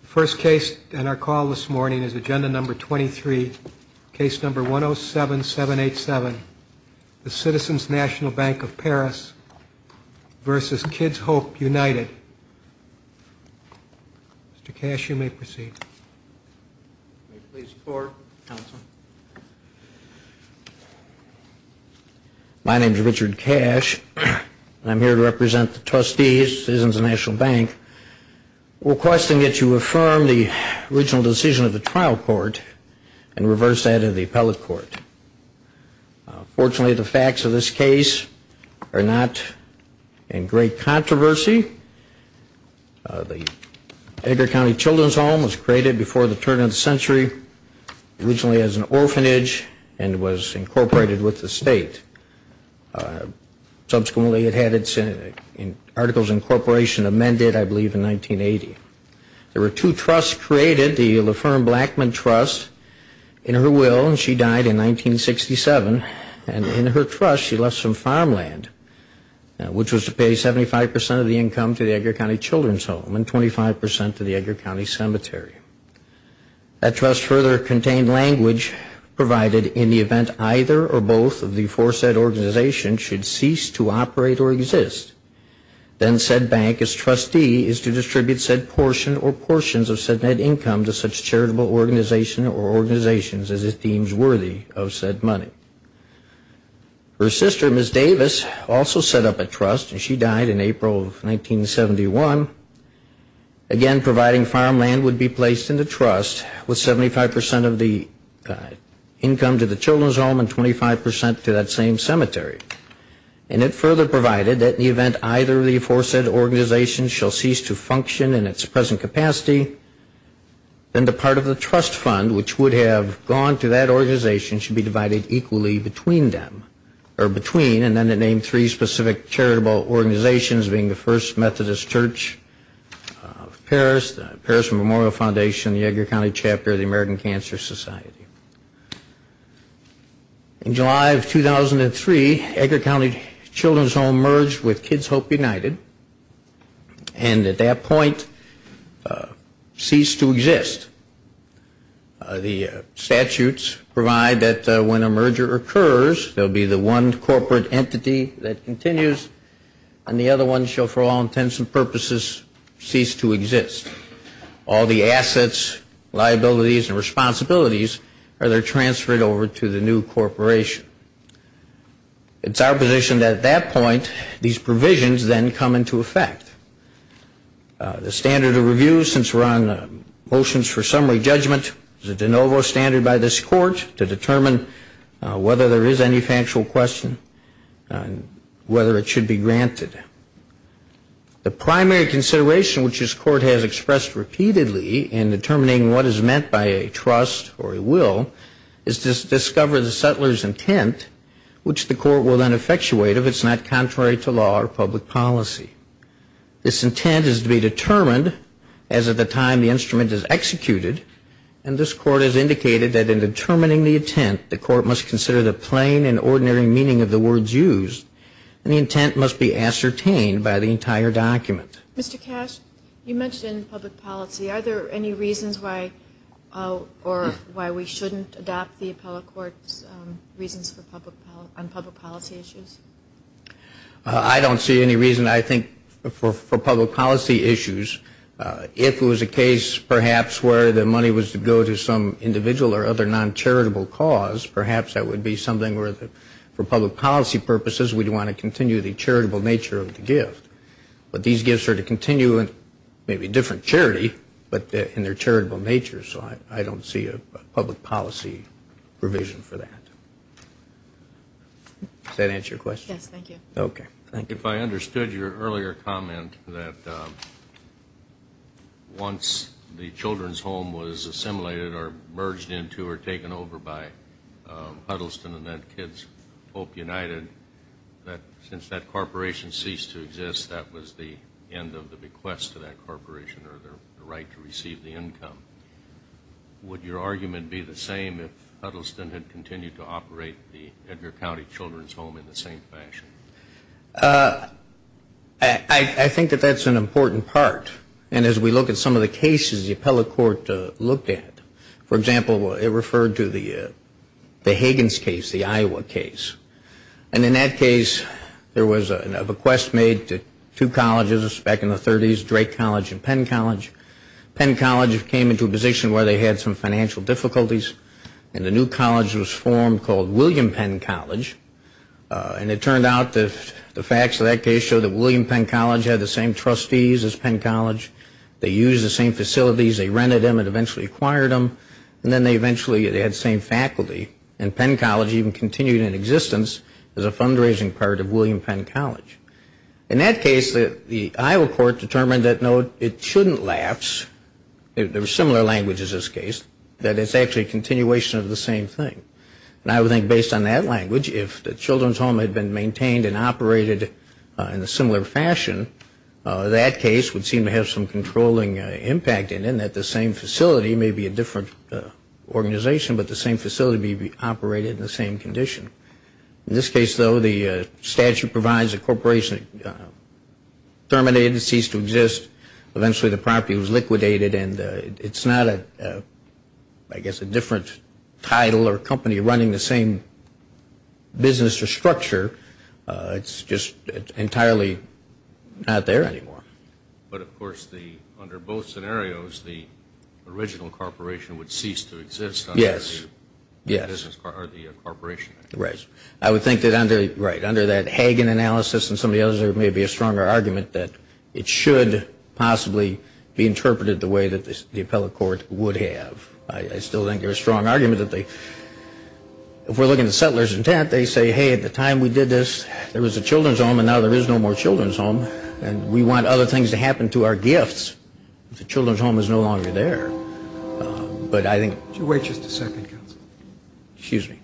The first case on our call this morning is Agenda Number 23, Case Number 107787, The Citizens National Bank of Paris v. Kids Hope United. Mr. Cash, you may proceed. My name is Richard Cash, and I'm here to represent the trustees, Citizens National Bank. I'm requesting that you affirm the original decision of the trial court and reverse that of the appellate court. Fortunately, the facts of this case are not in great controversy. The Edgar County Children's Home was created before the turn of the century, originally as an orphanage, and was incorporated with the state. Subsequently, it had its articles and corporation amended, I believe, in 1980. There were two trusts created, the Laferne Blackman Trust, in her will, and she died in 1967. And in her trust, she left some farmland, which was to pay 75 percent of the income to the Edgar County Children's Home and 25 percent to the Edgar County Cemetery. That trust further contained language provided in the event either or both of the foresaid organizations should cease to operate or exist. Then said bank, as trustee, is to distribute said portion or portions of said net income to such charitable organization or organizations as it deems worthy of said money. Her sister, Ms. Davis, also set up a trust, and she died in April of 1971. Again, providing farmland would be placed in the trust with 75 percent of the income to the Children's Home and 25 percent to that same cemetery. And it further provided that in the event either of the foresaid organizations shall cease to function in its present capacity, then the part of the trust fund which would have gone to that organization should be divided equally between them. And then it named three specific charitable organizations, being the First Methodist Church of Paris, the Paris Memorial Foundation, the Edgar County Chapter of the American Cancer Society. In July of 2003, Edgar County Children's Home merged with Kids Hope United, and at that point ceased to exist. The statutes provide that when a merger occurs, there will be the one corporate entity that continues, and the other one shall for all intents and purposes cease to exist. All the assets, liabilities, and responsibilities are then transferred over to the new corporation. It's our position that at that point, these provisions then come into effect. The standard of review, since we're on motions for summary judgment, is a de novo standard by this court to determine whether there is any factual question on whether it should be granted. The primary consideration which this court has expressed repeatedly in determining what is meant by a trust or a will is to discover the settler's intent, which the court will then effectuate if it's not contrary to law or public policy. This intent is to be determined as of the time the instrument is executed, and this court has indicated that in determining the intent, the court must consider the plain and ordinary meaning of the words used, and the intent must be ascertained by the entire document. Mr. Cash, you mentioned public policy. Are there any reasons why we shouldn't adopt the appellate court's reasons on public policy issues? I don't see any reason. I think for public policy issues, if it was a case perhaps where the money was to go to some individual or other non-charitable cause, perhaps that would be something where for public policy purposes, we'd want to continue the charitable nature of the gift. But these gifts are to continue in maybe different charity, but in their charitable nature, so I don't see a public policy provision for that. Does that answer your question? Yes, thank you. Okay, thank you. If I understood your earlier comment that once the children's home was assimilated or merged into or taken over by Huddleston and then Kids Hope United, since that corporation ceased to exist, that was the end of the bequest to that corporation or the right to receive the income. Would your argument be the same if Huddleston had continued to operate the Edgar County Children's Home in the same fashion? I think that that's an important part. And as we look at some of the cases the appellate court looked at, for example, it referred to the Higgins case, the Iowa case. And in that case, there was a bequest made to two colleges back in the 30s, Drake College and Penn College. Penn College came into a position where they had some financial difficulties and a new college was formed called William Penn College. And it turned out the facts of that case showed that William Penn College had the same trustees as Penn College. They used the same facilities. They rented them and eventually acquired them. And then they eventually had the same faculty. And Penn College even continued in existence as a fundraising part of William Penn College. In that case, the Iowa court determined that, no, it shouldn't lapse. There was similar language in this case, that it's actually a continuation of the same thing. And I would think based on that language, if the children's home had been maintained and operated in a similar fashion, that case would seem to have some controlling impact in it, in that the same facility may be a different organization, but the same facility may be operated in the same condition. In this case, though, the statute provides a corporation terminated and ceased to exist. Eventually the property was liquidated. And it's not, I guess, a different title or company running the same business or structure. It's just entirely not there anymore. But, of course, under both scenarios, the original corporation would cease to exist. Yes. Or the corporation. Right. I would think that under that Hagen analysis and some of the others there may be a stronger argument that it should possibly be interpreted the way that the appellate court would have. I still think there's a strong argument that they, if we're looking at settlers intent, they say, hey, at the time we did this, there was a children's home, and now there is no more children's home. And we want other things to happen to our gifts. The children's home is no longer there. Would you wait just a second, counsel? Excuse me.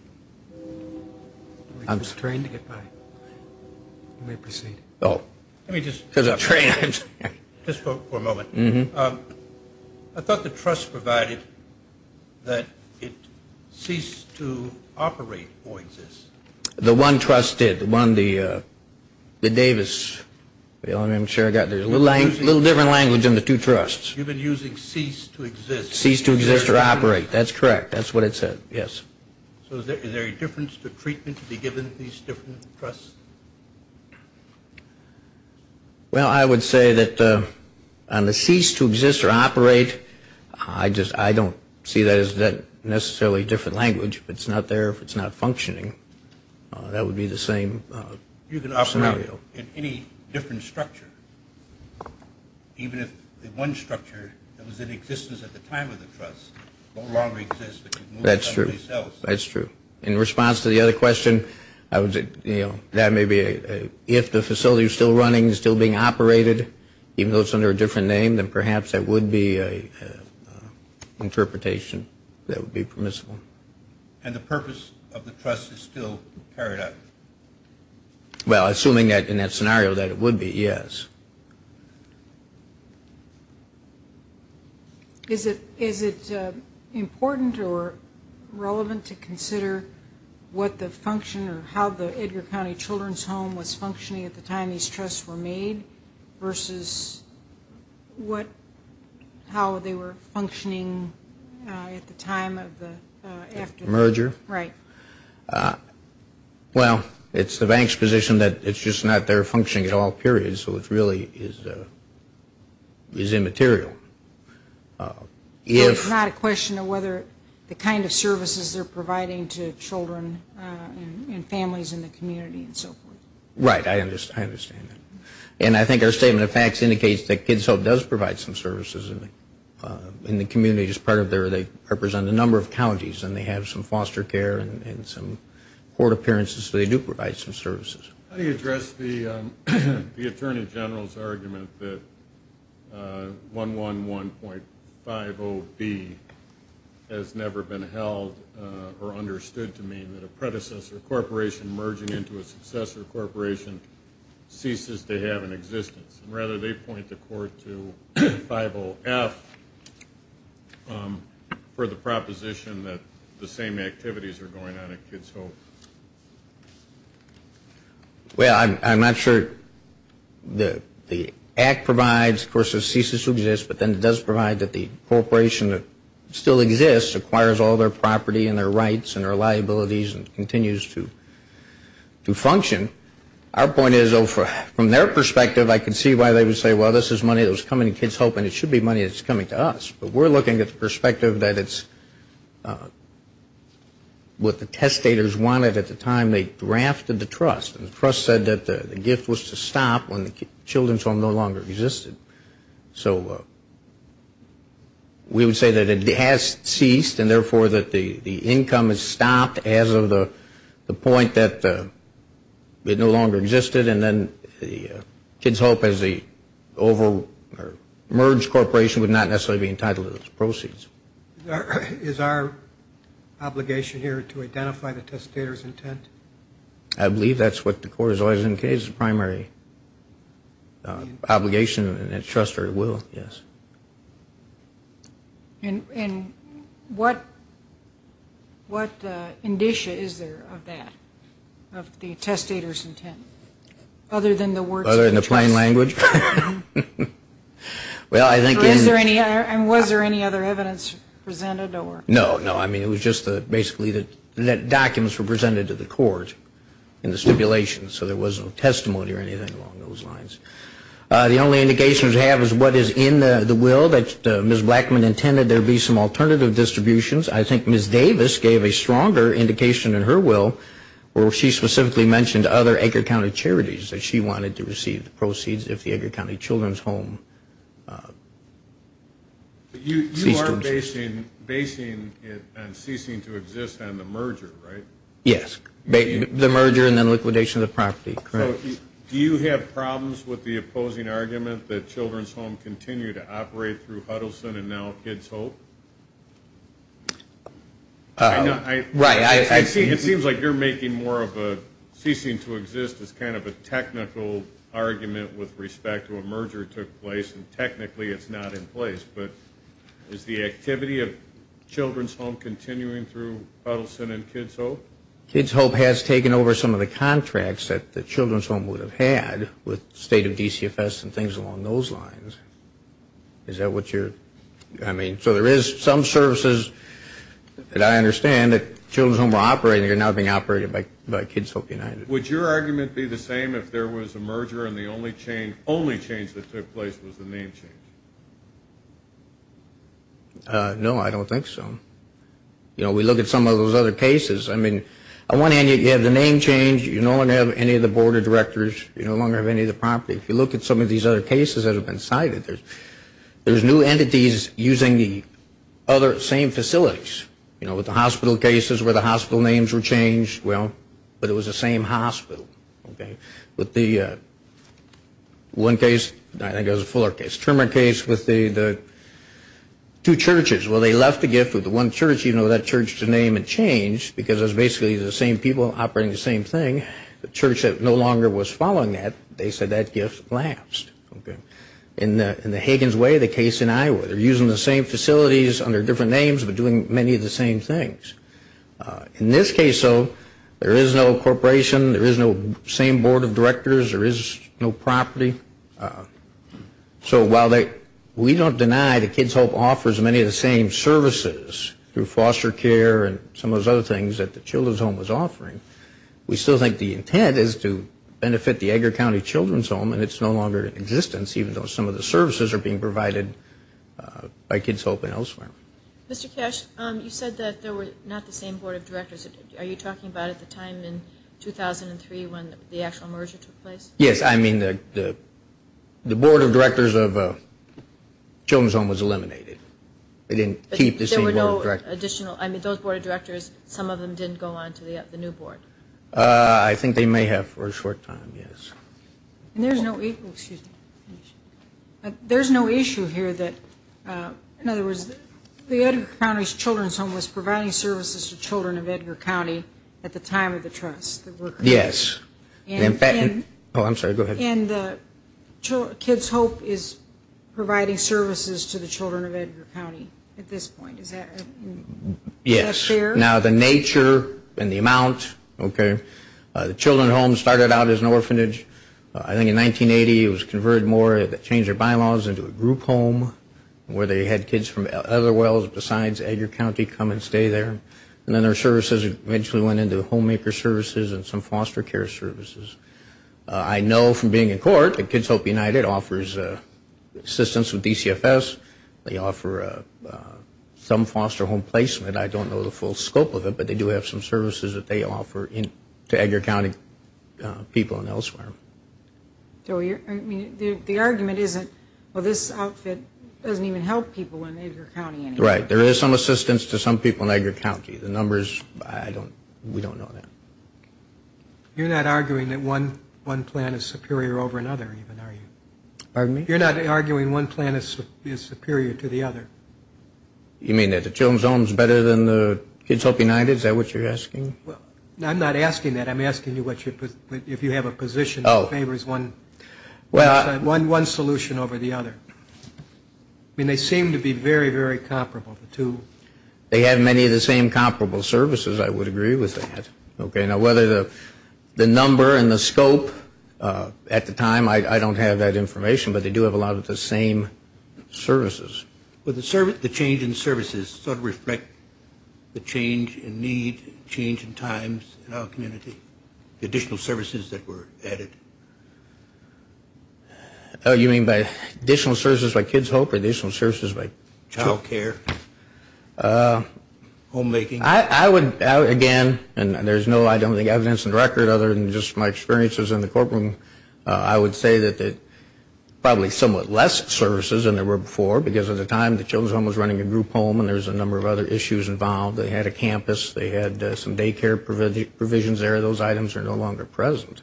I'm just trying to get by. You may proceed. Oh. Let me just. Because I'm trying. Just for a moment. I thought the trust provided that it ceased to operate or exist. The one trust did, the one, the Davis. I'm sure I got there. There's a little different language in the two trusts. You've been using cease to exist. Cease to exist or operate. That's correct. That's what it said. Yes. So is there a difference to treatment to be given to these different trusts? Well, I would say that on the cease to exist or operate, I don't see that as necessarily a different language. If it's not there, if it's not functioning, that would be the same scenario. You can operate in any different structure, even if the one structure that was in existence at the time of the trust no longer exists. That's true. That's true. In response to the other question, that may be if the facility is still running, still being operated, even though it's under a different name, then perhaps that would be an interpretation that would be permissible. And the purpose of the trust is still carried out? Well, assuming that in that scenario that it would be, yes. Is it important or relevant to consider what the function or how the Edgar County Children's Home was functioning at the time these trusts were made versus how they were functioning at the time of the after the merger? Right. Well, it's the bank's position that it's just not there functioning at all, period. So it really is immaterial. It's not a question of whether the kind of services they're providing to children and families in the community and so forth. Right. I understand that. And I think our statement of facts indicates that Kids Hope does provide some services. In the community as part of their, they represent a number of counties, and they have some foster care and some court appearances. So they do provide some services. How do you address the Attorney General's argument that 111.50B has never been held or understood to mean that a predecessor corporation merging into a successor corporation ceases to have an existence? Rather, they point the court to 50F for the proposition that the same activities are going on at Kids Hope. Well, I'm not sure the act provides, of course, it ceases to exist, but then it does provide that the corporation that still exists acquires all their property and their rights and their liabilities and continues to function. Our point is, though, from their perspective, I can see why they would say, well, this is money that was coming to Kids Hope, and it should be money that's coming to us. But we're looking at the perspective that it's what the testators wanted at the time they drafted the trust. The trust said that the gift was to stop when the children's home no longer existed. So we would say that it has ceased, and therefore that the income has stopped as of the point that it no longer existed, and then Kids Hope, as the merged corporation, would not necessarily be entitled to those proceeds. Is our obligation here to identify the testator's intent? I believe that's what the court has always indicated as the primary obligation in its trust or its will, yes. And what indicia is there of that, of the testator's intent, other than the words of the trust? Other than the plain language? And was there any other evidence presented? No, no. I mean, it was just basically that documents were presented to the court in the stipulation, so there was no testimony or anything along those lines. The only indication we have is what is in the will that Ms. Blackman intended. There would be some alternative distributions. I think Ms. Davis gave a stronger indication in her will, where she specifically mentioned other Edgar County charities that she wanted to receive the proceeds if the Edgar County Children's Home ceased to exist. You are basing it on ceasing to exist on the merger, right? Yes, the merger and then liquidation of the property, correct. Do you have problems with the opposing argument that Children's Home continue to operate through Huddleston and now Kids Hope? Right. It seems like you're making more of a ceasing to exist as kind of a technical argument with respect to a merger that took place, and technically it's not in place. But is the activity of Children's Home continuing through Huddleston and Kids Hope? Kids Hope has taken over some of the contracts that the Children's Home would have had with State of DCFS and things along those lines. Is that what you're – I mean, so there is some services that I understand that Children's Home are operating and are now being operated by Kids Hope United. Would your argument be the same if there was a merger and the only change that took place was the name change? No, I don't think so. You know, we look at some of those other cases. I mean, on one hand, you have the name change. You no longer have any of the board of directors. You no longer have any of the property. If you look at some of these other cases that have been cited, there's new entities using the other same facilities. You know, with the hospital cases where the hospital names were changed, well, but it was the same hospital, okay? With the one case, I think it was a Fuller case, Trimmer case with the two churches. Well, they left the gift with the one church, even though that church's name had changed because it was basically the same people operating the same thing. The church that no longer was following that, they said that gift lapsed. In the Higgins way, the case in Iowa, they're using the same facilities under different names but doing many of the same things. In this case, though, there is no corporation. There is no same board of directors. There is no property. So while we don't deny that Kids Hope offers many of the same services through foster care and some of those other things that the Children's Home was offering, we still think the intent is to benefit the Edgar County Children's Home, and it's no longer in existence even though some of the services are being provided by Kids Hope and elsewhere. Mr. Cash, you said that there were not the same board of directors. Are you talking about at the time in 2003 when the actual merger took place? Yes, I mean the board of directors of Children's Home was eliminated. They didn't keep the same board of directors. There were no additional, I mean those board of directors, some of them didn't go on to the new board. I think they may have for a short time, yes. There's no issue here that, in other words, the Edgar County Children's Home was providing services to children of Edgar County at the time of the trust. Yes. Oh, I'm sorry. Go ahead. And the Kids Hope is providing services to the children of Edgar County at this point. Is that fair? Yes. Now the nature and the amount, okay, the Children's Home started out as an orphanage. I think in 1980 it was converted more, changed their bylaws into a group home where they had kids from other wells besides Edgar County come and stay there. And then their services eventually went into homemaker services and some foster care services. I know from being in court that Kids Hope United offers assistance with DCFS. They offer some foster home placement. I don't know the full scope of it, but they do have some services that they offer to Edgar County people and elsewhere. So the argument isn't, well, this outfit doesn't even help people in Edgar County anymore. Right. There is some assistance to some people in Edgar County. The numbers, we don't know that. You're not arguing that one plan is superior over another even, are you? Pardon me? You're not arguing one plan is superior to the other? You mean that the Children's Home is better than the Kids Hope United? Is that what you're asking? I'm not asking that. I'm asking you if you have a position that favors one solution over the other. I mean, they seem to be very, very comparable, the two. They have many of the same comparable services. I would agree with that. Okay. Now, whether the number and the scope at the time, I don't have that information. But they do have a lot of the same services. Would the change in services sort of reflect the change in need, change in times in our community, the additional services that were added? Oh, you mean by additional services by Kids Hope or additional services by Child Care? Homemaking. I would, again, and there's no, I don't think, evidence in the record, other than just my experiences in the courtroom, I would say that probably somewhat less services than there were before, because at the time the Children's Home was running a group home and there was a number of other issues involved. They had a campus. They had some daycare provisions there. Those items are no longer present.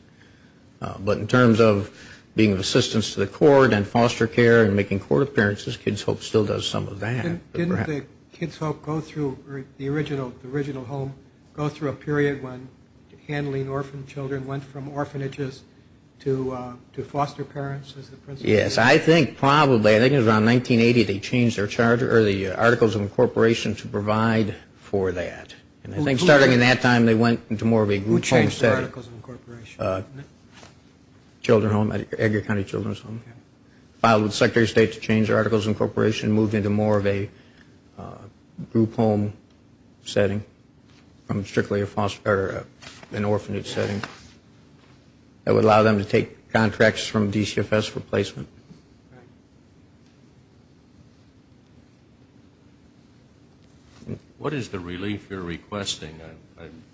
But in terms of being of assistance to the court and foster care and making court appearances, Kids Hope still does some of that. Didn't the Kids Hope go through the original home, go through a period when handling orphan children went from orphanages to foster parents? Yes, I think probably. I think it was around 1980 they changed their charter or the Articles of Incorporation to provide for that. And I think starting in that time they went into more of a group home setting. Who changed the Articles of Incorporation? Children Home, Edgar County Children's Home. Filed with the Secretary of State to change the Articles of Incorporation, moved into more of a group home setting from strictly an orphanage setting. That would allow them to take contracts from DCFS for placement. Thank you. What is the relief you're requesting?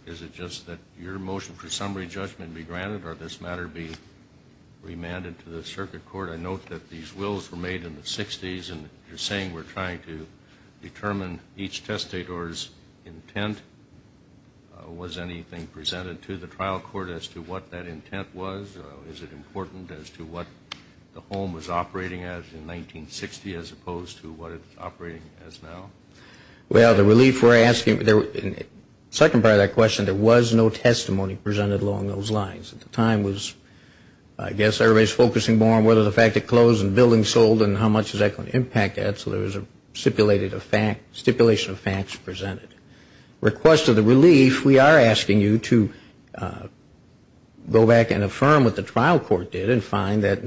Is it just that your motion for summary judgment be granted or this matter be remanded to the circuit court? I note that these wills were made in the 60s, and you're saying we're trying to determine each testator's intent. Was anything presented to the trial court as to what that intent was? Is it important as to what the home was operating as in 1960 as opposed to what it's operating as now? Well, the relief we're asking, second part of that question, there was no testimony presented along those lines. At the time was, I guess everybody's focusing more on whether the fact it closed and buildings sold and how much is that going to impact that. So there was a stipulation of facts presented. Request of the relief, we are asking you to go back and affirm what the trial court did and find that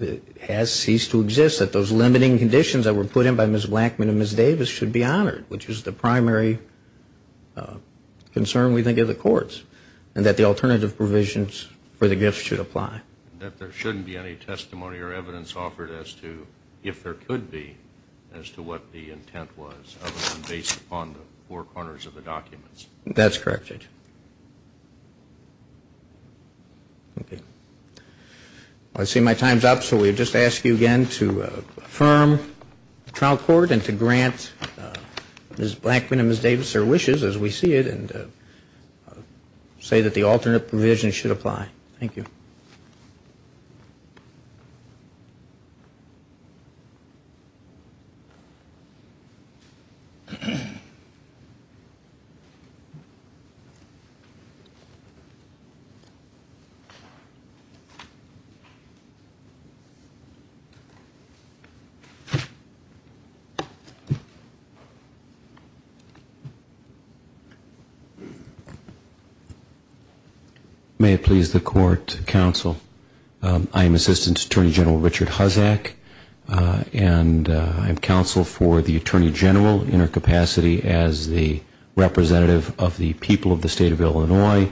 it has ceased to exist, that those limiting conditions that were put in by Ms. Blackman and Ms. Davis should be honored, which is the primary concern we think of the courts, and that the alternative provisions for the gifts should apply. That there shouldn't be any testimony or evidence offered as to if there could be as to what the intent was other than based upon the four corners of the documents. That's correct, Judge. Okay. I see my time's up, so we just ask you again to affirm the trial court and to grant Ms. Blackman and Ms. Davis their wishes as we see it and say that the alternate provision should apply. Thank you. Thank you. I am Assistant Attorney General Richard Hussack, and I'm counsel for the Attorney General in her capacity as the representative of the people of the state of Illinois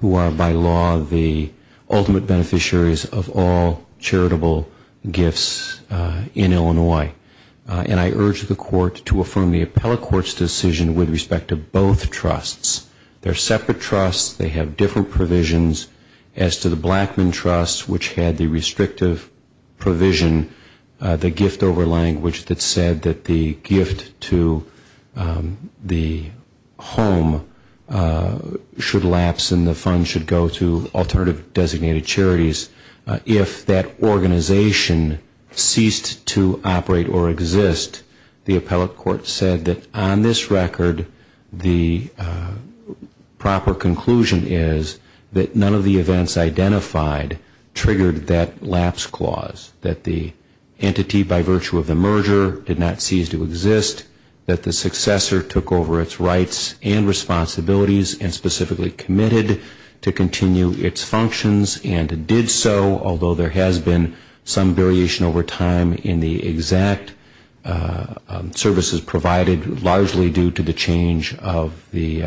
who are by law the ultimate beneficiaries of all charitable gifts in Illinois. And I urge the court to affirm the appellate court's decision with respect to both trusts. They're separate trusts. They have different provisions as to the Blackman Trust, which had the restrictive provision, the gift over language that said that the gift to the home should lapse and the funds should go to alternative designated charities. If that organization ceased to operate or exist, the appellate court said that on this record, the proper conclusion is that none of the events identified triggered that lapse clause, that the entity by virtue of the merger did not cease to exist, that the successor took over its rights and responsibilities and specifically committed to continue its functions and did so, although there has been some variation over time in the exact services provided, largely due to the change or the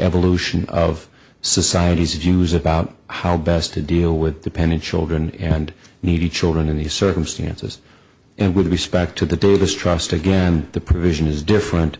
evolution of society's views about how best to deal with dependent children and needy children in these circumstances. And with respect to the Davis Trust, again, the provision is different,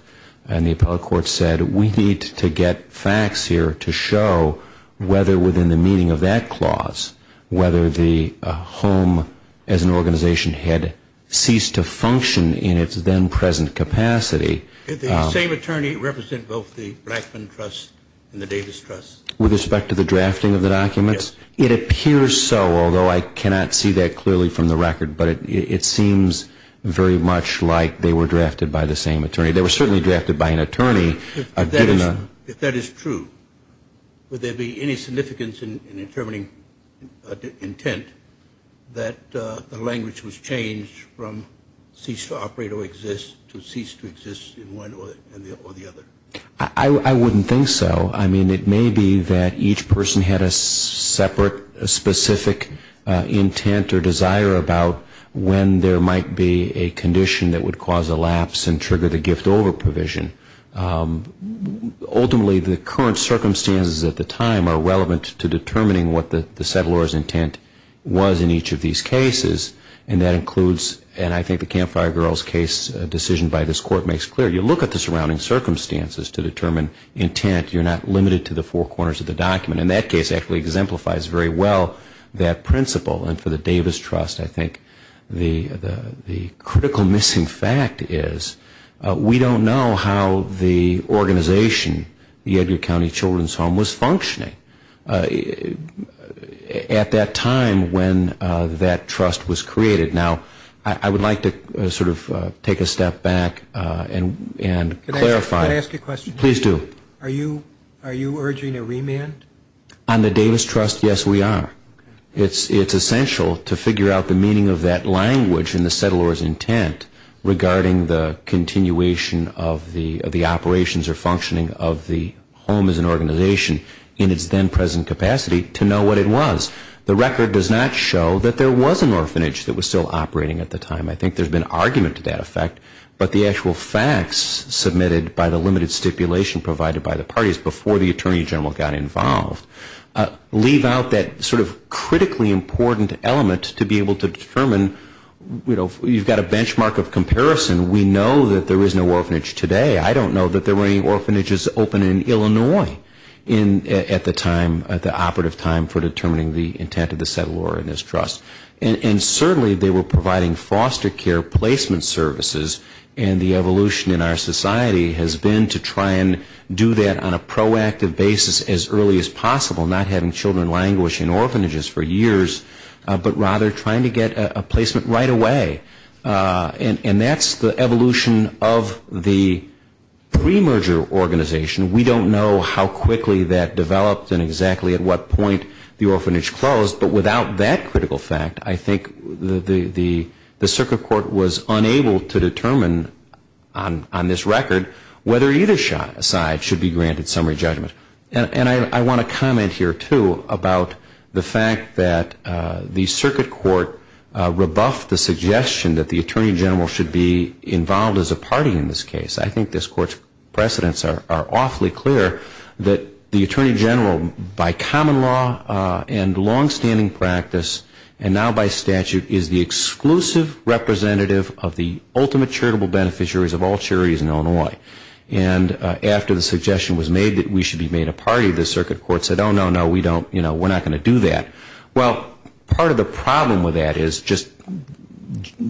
and the appellate court said we need to get facts here to show whether within the meaning of that clause, whether the home as an organization had ceased to function in its then present capacity. Did the same attorney represent both the Blackman Trust and the Davis Trust? With respect to the drafting of the documents? Yes. It appears so, although I cannot see that clearly from the record, but it seems very much like they were drafted by the same attorney. They were certainly drafted by an attorney. If that is true, would there be any significance in determining intent that the language was changed from cease to operate or exist to cease to exist in one or the other? I wouldn't think so. I mean, it may be that each person had a separate specific intent or desire about when there might be a condition that would cause a lapse and trigger the gift over provision. Ultimately, the current circumstances at the time are relevant to determining what the settler's intent was in each of these cases, and that includes, and I think the Campfire Girls case decision by this court makes clear, you look at the surrounding circumstances to determine intent. You're not limited to the four corners of the document. And that case actually exemplifies very well that principle. And for the Davis Trust, I think the critical missing fact is we don't know how the organization, the Edgar County Children's Home, was functioning at that time when that trust was created. Now, I would like to sort of take a step back and clarify. Can I ask a question? Please do. Are you urging a remand? On the Davis Trust, yes, we are. It's essential to figure out the meaning of that language in the settler's intent regarding the continuation of the operations or functioning of the home as an organization in its then present capacity to know what it was. The record does not show that there was an orphanage that was still operating at the time. I think there's been argument to that effect, but the actual facts submitted by the limited stipulation provided by the parties before the Attorney General got involved leave out that sort of critically important element to be able to determine, you know, you've got a benchmark of comparison. We know that there is no orphanage today. I don't know that there were any orphanages open in Illinois at the time, at the operative time for determining the intent of the settler in this trust. And certainly they were providing foster care placement services, and the evolution in our society has been to try and do that on a proactive basis as early as possible, not having children languish in orphanages for years, but rather trying to get a placement right away. And that's the evolution of the pre-merger organization. We don't know how quickly that developed and exactly at what point the orphanage closed. But without that critical fact, I think the Circuit Court was unable to determine on this record whether either side should be granted summary judgment. And I want to comment here, too, about the fact that the Circuit Court rebuffed the suggestion that the Attorney General should be involved as a party in this case. I think this Court's precedents are awfully clear that the Attorney General, by common law and longstanding practice and now by statute, is the exclusive representative of the ultimate charitable beneficiaries of all charities in Illinois. And after the suggestion was made that we should be made a party, the Circuit Court said, oh, no, no, we don't, you know, we're not going to do that. Well, part of the problem with that is just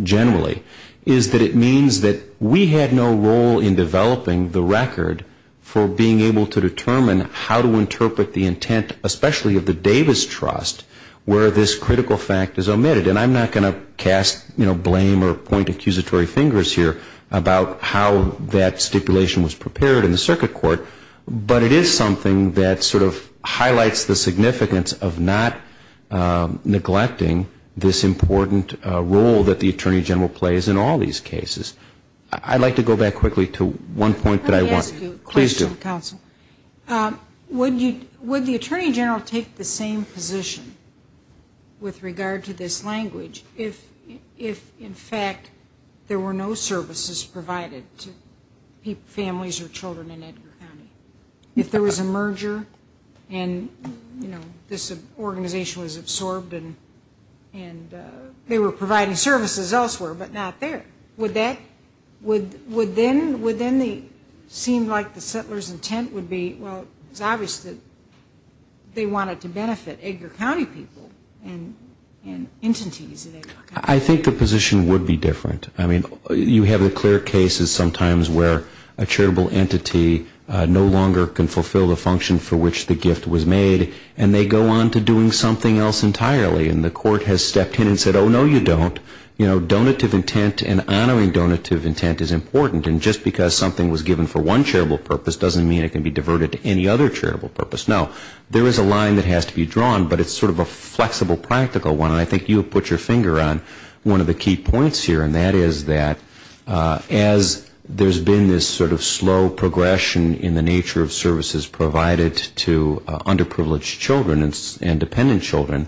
generally is that it means that we had no role in developing the record for being able to determine how to interpret the intent, especially of the Davis Trust, where this critical fact is omitted. And I'm not going to cast, you know, blame or point accusatory fingers here about how that stipulation was prepared in the Circuit Court, but it is something that sort of highlights the significance of not neglecting this important role that the Attorney General plays in all these cases. I'd like to go back quickly to one point that I want. Let me ask you a question, Counsel. Please do. Would the Attorney General take the same position with regard to this language if, in fact, there were no services provided to families or children in Edgar County? If there was a merger and, you know, this organization was absorbed and they were providing services elsewhere but not there, would that, would then the, seemed like the settler's intent would be, well, it's obvious that they wanted to benefit Edgar County people and entities. I think the position would be different. I mean, you have the clear cases sometimes where a charitable entity no longer can fulfill the function for which the gift was made and they go on to doing something else entirely. And the court has stepped in and said, oh, no, you don't. You know, donative intent and honoring donative intent is important. And just because something was given for one charitable purpose doesn't mean it can be diverted to any other charitable purpose. No. There is a line that has to be drawn, but it's sort of a flexible, practical one. I think you have put your finger on one of the key points here, and that is that as there's been this sort of slow progression in the nature of services provided to underprivileged children and dependent children,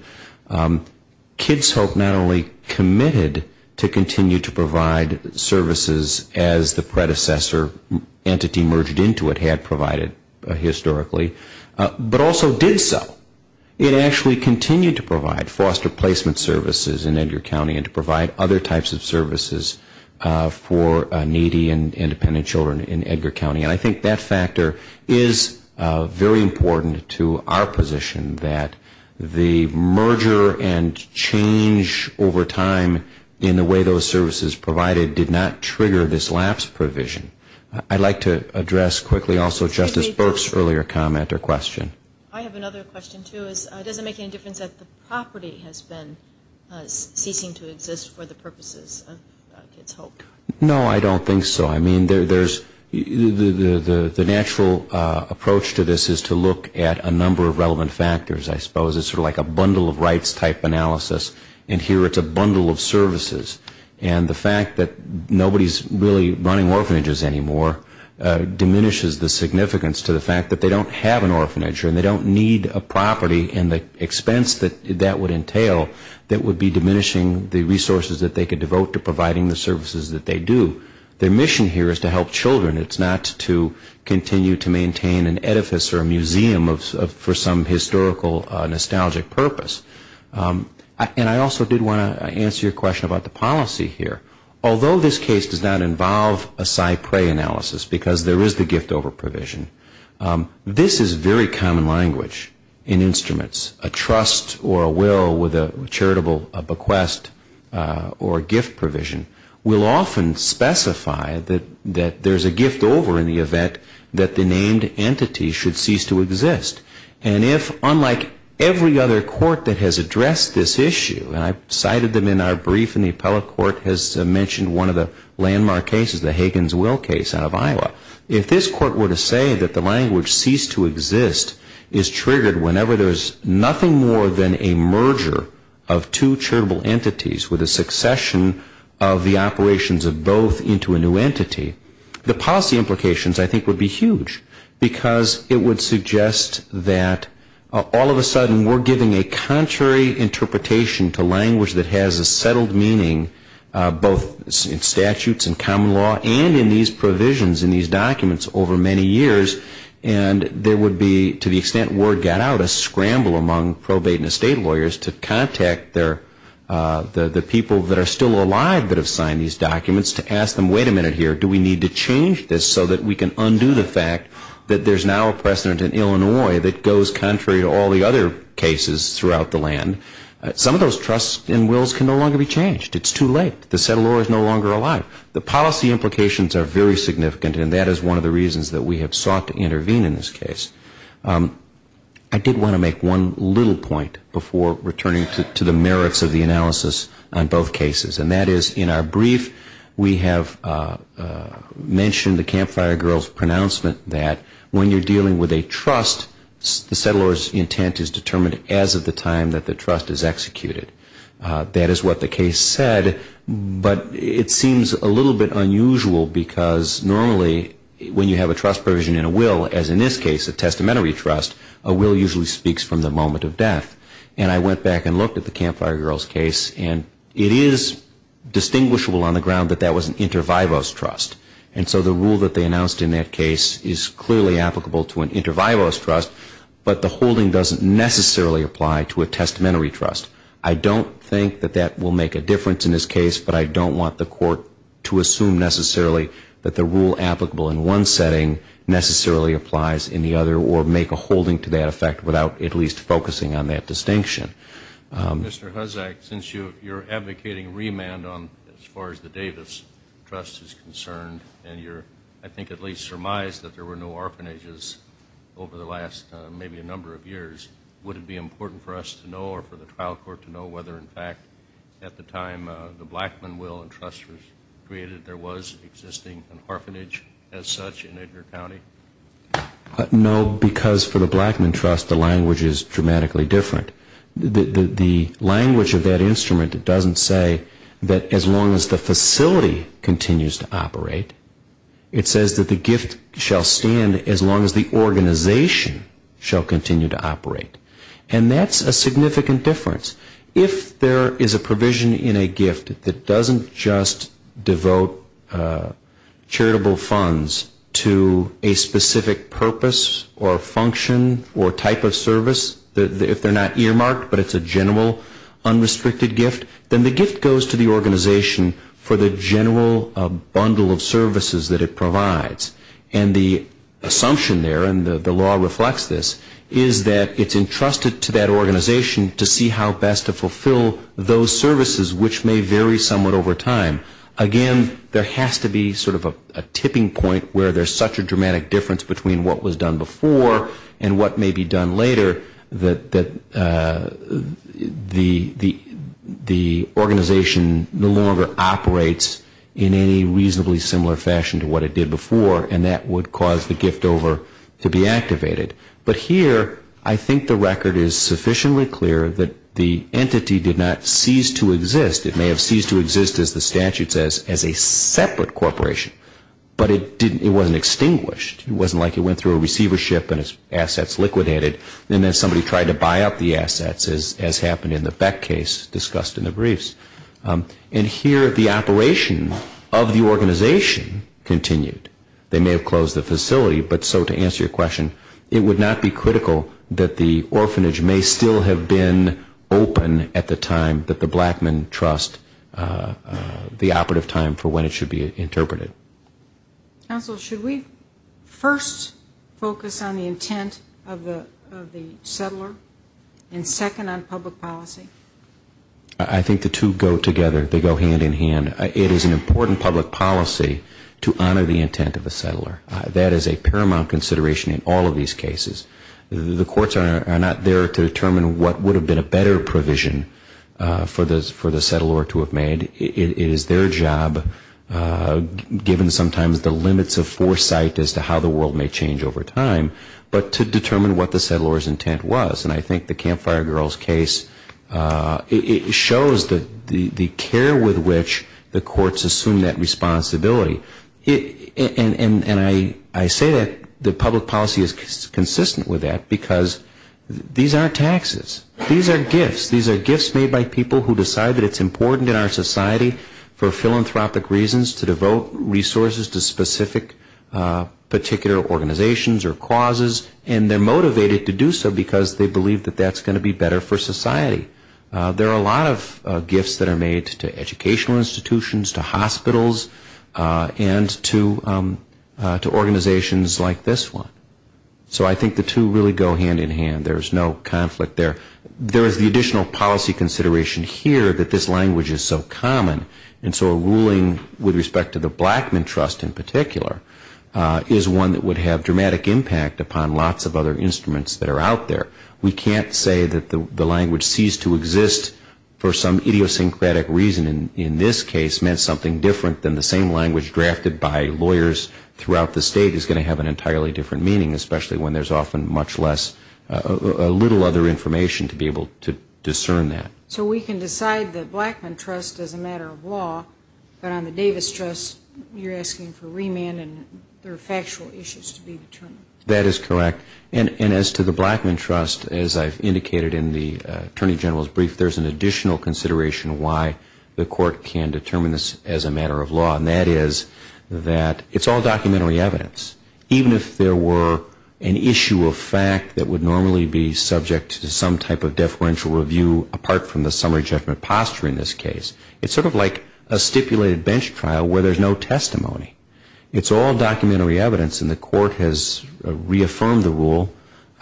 Kids Hope not only committed to continue to provide services as the predecessor entity merged into it had provided historically, but also did so. It actually continued to provide foster placement services in Edgar County and to provide other types of services for needy and independent children in Edgar County. And I think that factor is very important to our position that the merger and change over time in the way those services provided did not trigger this lapse provision. I'd like to address quickly also Justice Burke's earlier comment or question. I have another question too. Does it make any difference that the property has been ceasing to exist for the purposes of Kids Hope? No, I don't think so. I mean, the natural approach to this is to look at a number of relevant factors, I suppose. It's sort of like a bundle of rights type analysis, and here it's a bundle of services. And the fact that nobody's really running orphanages anymore diminishes the significance to the fact that they don't have an organization, they don't need a property, and the expense that that would entail, that would be diminishing the resources that they could devote to providing the services that they do. Their mission here is to help children. It's not to continue to maintain an edifice or a museum for some historical nostalgic purpose. And I also did want to answer your question about the policy here. Although this case does not involve a cypre analysis, because there is the gift over provision, this is very common language in instruments. A trust or a will with a charitable bequest or a gift provision will often specify that there's a gift over in the event that the named entity should cease to exist. And if, unlike every other court that has addressed this issue, and I've cited them in our brief, and the appellate court has mentioned one of the landmark cases, the Hagen's Will case out of Iowa, if this court were to say that the language cease to exist is triggered whenever there's nothing more than a merger of two charitable entities with a succession of the operations of both into a new entity, the policy implications, I think, would be huge. Because it would suggest that all of a sudden we're giving a contrary interpretation to language that has a settled meaning, both in statutes and common law and in these provisions in these documents over many years. And there would be, to the extent word got out, a scramble among probate and estate lawyers to contact the people that are still alive that have signed these documents to ask them, wait a minute here, do we need to change this so that we can undo the fact that there's now a precedent in Illinois that goes contrary to all the other cases throughout the land. Some of those trusts and wills can no longer be changed. It's too late. The settler is no longer alive. The policy implications are very significant, and that is one of the reasons that we have sought to intervene in this case. I did want to make one little point before returning to the merits of the analysis on both cases. And that is, in our brief, we have mentioned the Campfire Girls' pronouncement that when you're dealing with a trust, the settler's intent is determined as of the time that the trust is executed. That is what the case said, but it seems a little bit unusual because normally when you have a trust provision in a will, as in this case, a testamentary trust, a will usually speaks from the moment of death. And I went back and looked at the Campfire Girls' case, and it is distinguishable on the ground that that was an inter vivos trust. And so the rule that they announced in that case is clearly applicable to an inter vivos trust, but the holding doesn't necessarily apply to a testamentary trust. I don't think that that will make a difference in this case, but I don't want the court to assume necessarily that the rule applicable in one setting necessarily applies in the other or make a holding to that effect without at least focusing on that distinction. Mr. Huzzack, since you're advocating remand as far as the Davis Trust is concerned, and you're I think at least surmised that there were no orphanages over the last maybe a number of years, would it be important for us to know or for the trial court to know whether, in fact, at the time the Blackman Will and Trust was created, there was existing an orphanage as such in Edgar County? No, because for the Blackman Trust, the language is dramatically different. The language of that instrument doesn't say that as long as the facility continues to operate, it says that the gift shall stand as long as the organization shall continue to operate, and that's a significant difference. If there is a provision in a gift that doesn't just devote charitable funds to a specific purpose or function or type of service, if they're not earmarked but it's a general unrestricted gift, then the gift goes to the organization for the general bundle of services that it provides. And the assumption there, and the law reflects this, is that it's entrusted to that organization to see how best to fulfill those services, which may vary somewhat over time. Again, there has to be sort of a tipping point where there's such a dramatic difference between what was done before and what may be done later that the organization no longer operates in any reasonably similar fashion to what it did before, and that would cause the gift over to be activated. But here, I think the record is sufficiently clear that the entity did not cease to exist. It may have ceased to exist, as the statute says, as a separate corporation, but it wasn't extinguished. It wasn't like it went through a receivership and its assets liquidated, and then somebody tried to buy up the assets, as happened in the Beck case discussed in the briefs. And here, the operation of the organization continued. They may have closed the facility, but so to answer your question, it would not be critical that the orphanage may still have been open at the time that the Blackman Trust, the operative time for when it should be interpreted. Thank you. Counsel, should we first focus on the intent of the settler and second on public policy? I think the two go together. They go hand in hand. It is an important public policy to honor the intent of the settler. That is a paramount consideration in all of these cases. The courts are not there to determine what would have been a better provision for the settler to have made. It is their job, given sometimes the limits of foresight as to how the world may change over time, but to determine what the settler's intent was. And I think the Campfire Girls case shows the care with which the courts assume that responsibility. And I say that the public policy is consistent with that, because these aren't taxes. These are gifts. These are gifts made by people who decide that it's important in our society for philanthropic reasons to devote resources to specific particular organizations or causes, and they're motivated to do so because they believe that that's going to be better for society. There are a lot of gifts that are made to educational institutions, to hospitals, and to organizations like this one. So I think the two really go hand in hand. There's no conflict there. There is the additional policy consideration here that this language is so common, and so a ruling with respect to the Blackmun Trust in particular is one that would have dramatic impact upon lots of other instruments that are out there. We can't say that the language ceased to exist for some idiosyncratic reason, and in this case meant something different than the same language drafted by lawyers throughout the state is going to have an entirely different meaning, especially when there's often much less, a little other information to be able to discern that. So we can decide the Blackmun Trust as a matter of law, but on the Davis Trust you're asking for remand and there are factual issues to be determined. That is correct. And as to the Blackmun Trust, as I've indicated in the Attorney General's brief, there's an additional consideration why the court can determine this as a matter of law, and that is that it's all documentary evidence. Even if there were an issue of fact that would normally be subject to some type of deferential review apart from the summary judgment posture in this case, it's sort of like a stipulated bench trial where there's no testimony. It's all documentary evidence, and the court has reaffirmed the rule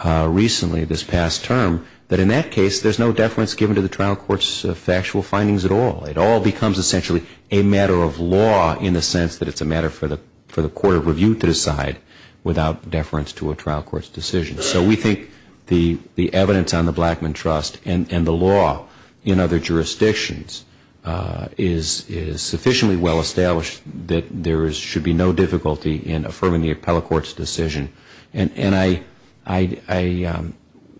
recently this past term that in that case there's no deference given to the trial court's factual findings at all. It all becomes essentially a matter of law in the sense that it's a matter for the court of review to decide without deference to a trial court's decision. So we think the evidence on the Blackmun Trust and the law in other jurisdictions is sufficiently well established that there should be no difficulty in affirming the appellate court's decision. And I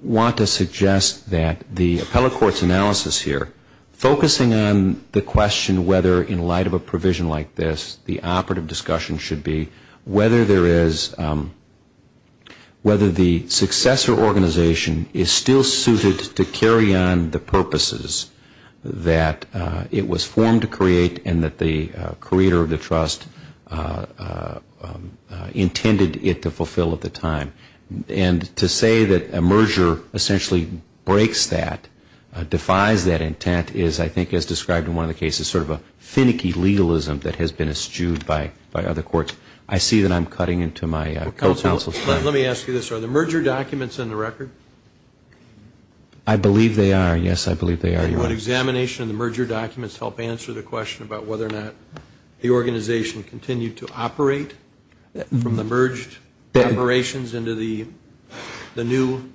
want to suggest that the appellate court's analysis here, focusing on the question whether, in light of a provision like this, the operative discussion should be whether there is, whether the successor organization is still suited to carry on the purposes that it was formed to create and that the creator of the trust intended it to fulfill at the time. And to say that a merger essentially breaks that, defies that intent, is I think as described in one of the cases, sort of a finicky legalism that has been eschewed by other courts. I see that I'm cutting into my co-counsel's time. Let me ask you this. Are the merger documents in the record? I believe they are. Yes, I believe they are, Your Honor. Would examination of the merger documents help answer the question about whether or not the organization continued to operate from the merged operations into the new entity?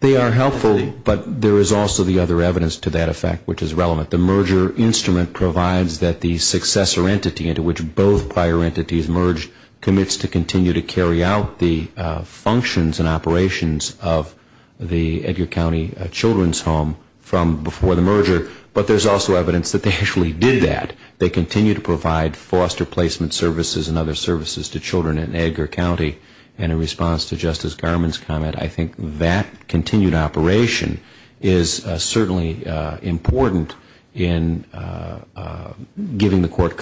They are helpful, but there is also the other evidence to that effect, which is relevant. The merger instrument provides that the successor entity into which both prior entities merged commits to continue to carry out the functions and operations of the Edgar County Children's Home from before the merger. But there is also evidence that they actually did that. They continue to provide foster placement services and other services to children in Edgar County. And in response to Justice Garmon's comment, I think that continued operation is certainly important in giving the court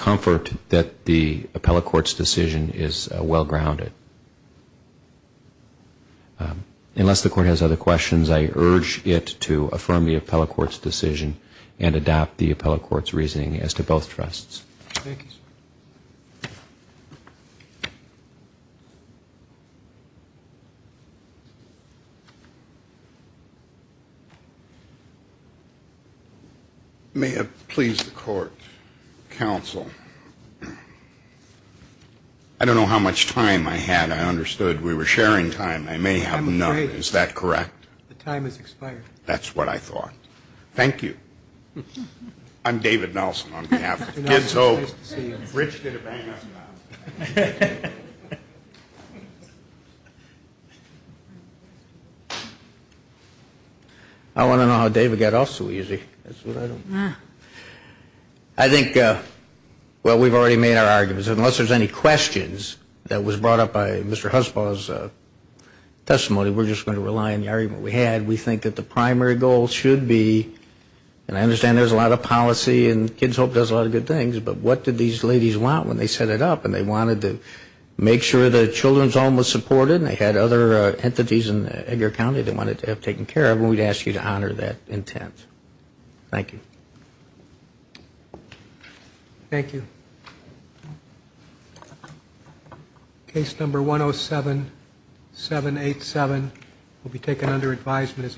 Unless the court has other questions, I urge it to affirm the appellate court's decision and adopt the appellate court's reasoning as to both trusts. Thank you, sir. May it please the court, counsel. I don't know how much time I had. I understood we were sharing time. I may have none. Is that correct? The time has expired. That's what I thought. Thank you. I'm David Nelson on behalf of Kids Hope. I want to know how David got off so easy. I think, well, we've already made our arguments. Unless there's any questions that was brought up by Mr. Husbaugh's testimony, we're just going to rely on the argument we had. We think that the primary goal should be, and I understand there's a lot of policy and Kids Hope does a lot of good things, but what did these ladies want when they set it up? And they wanted to make sure the children's home was supported and they had other entities in Edgar County that they wanted to have taken care of, and we'd ask you to honor that intent. Thank you. Thank you. Case number 107787 will be taken under advisement.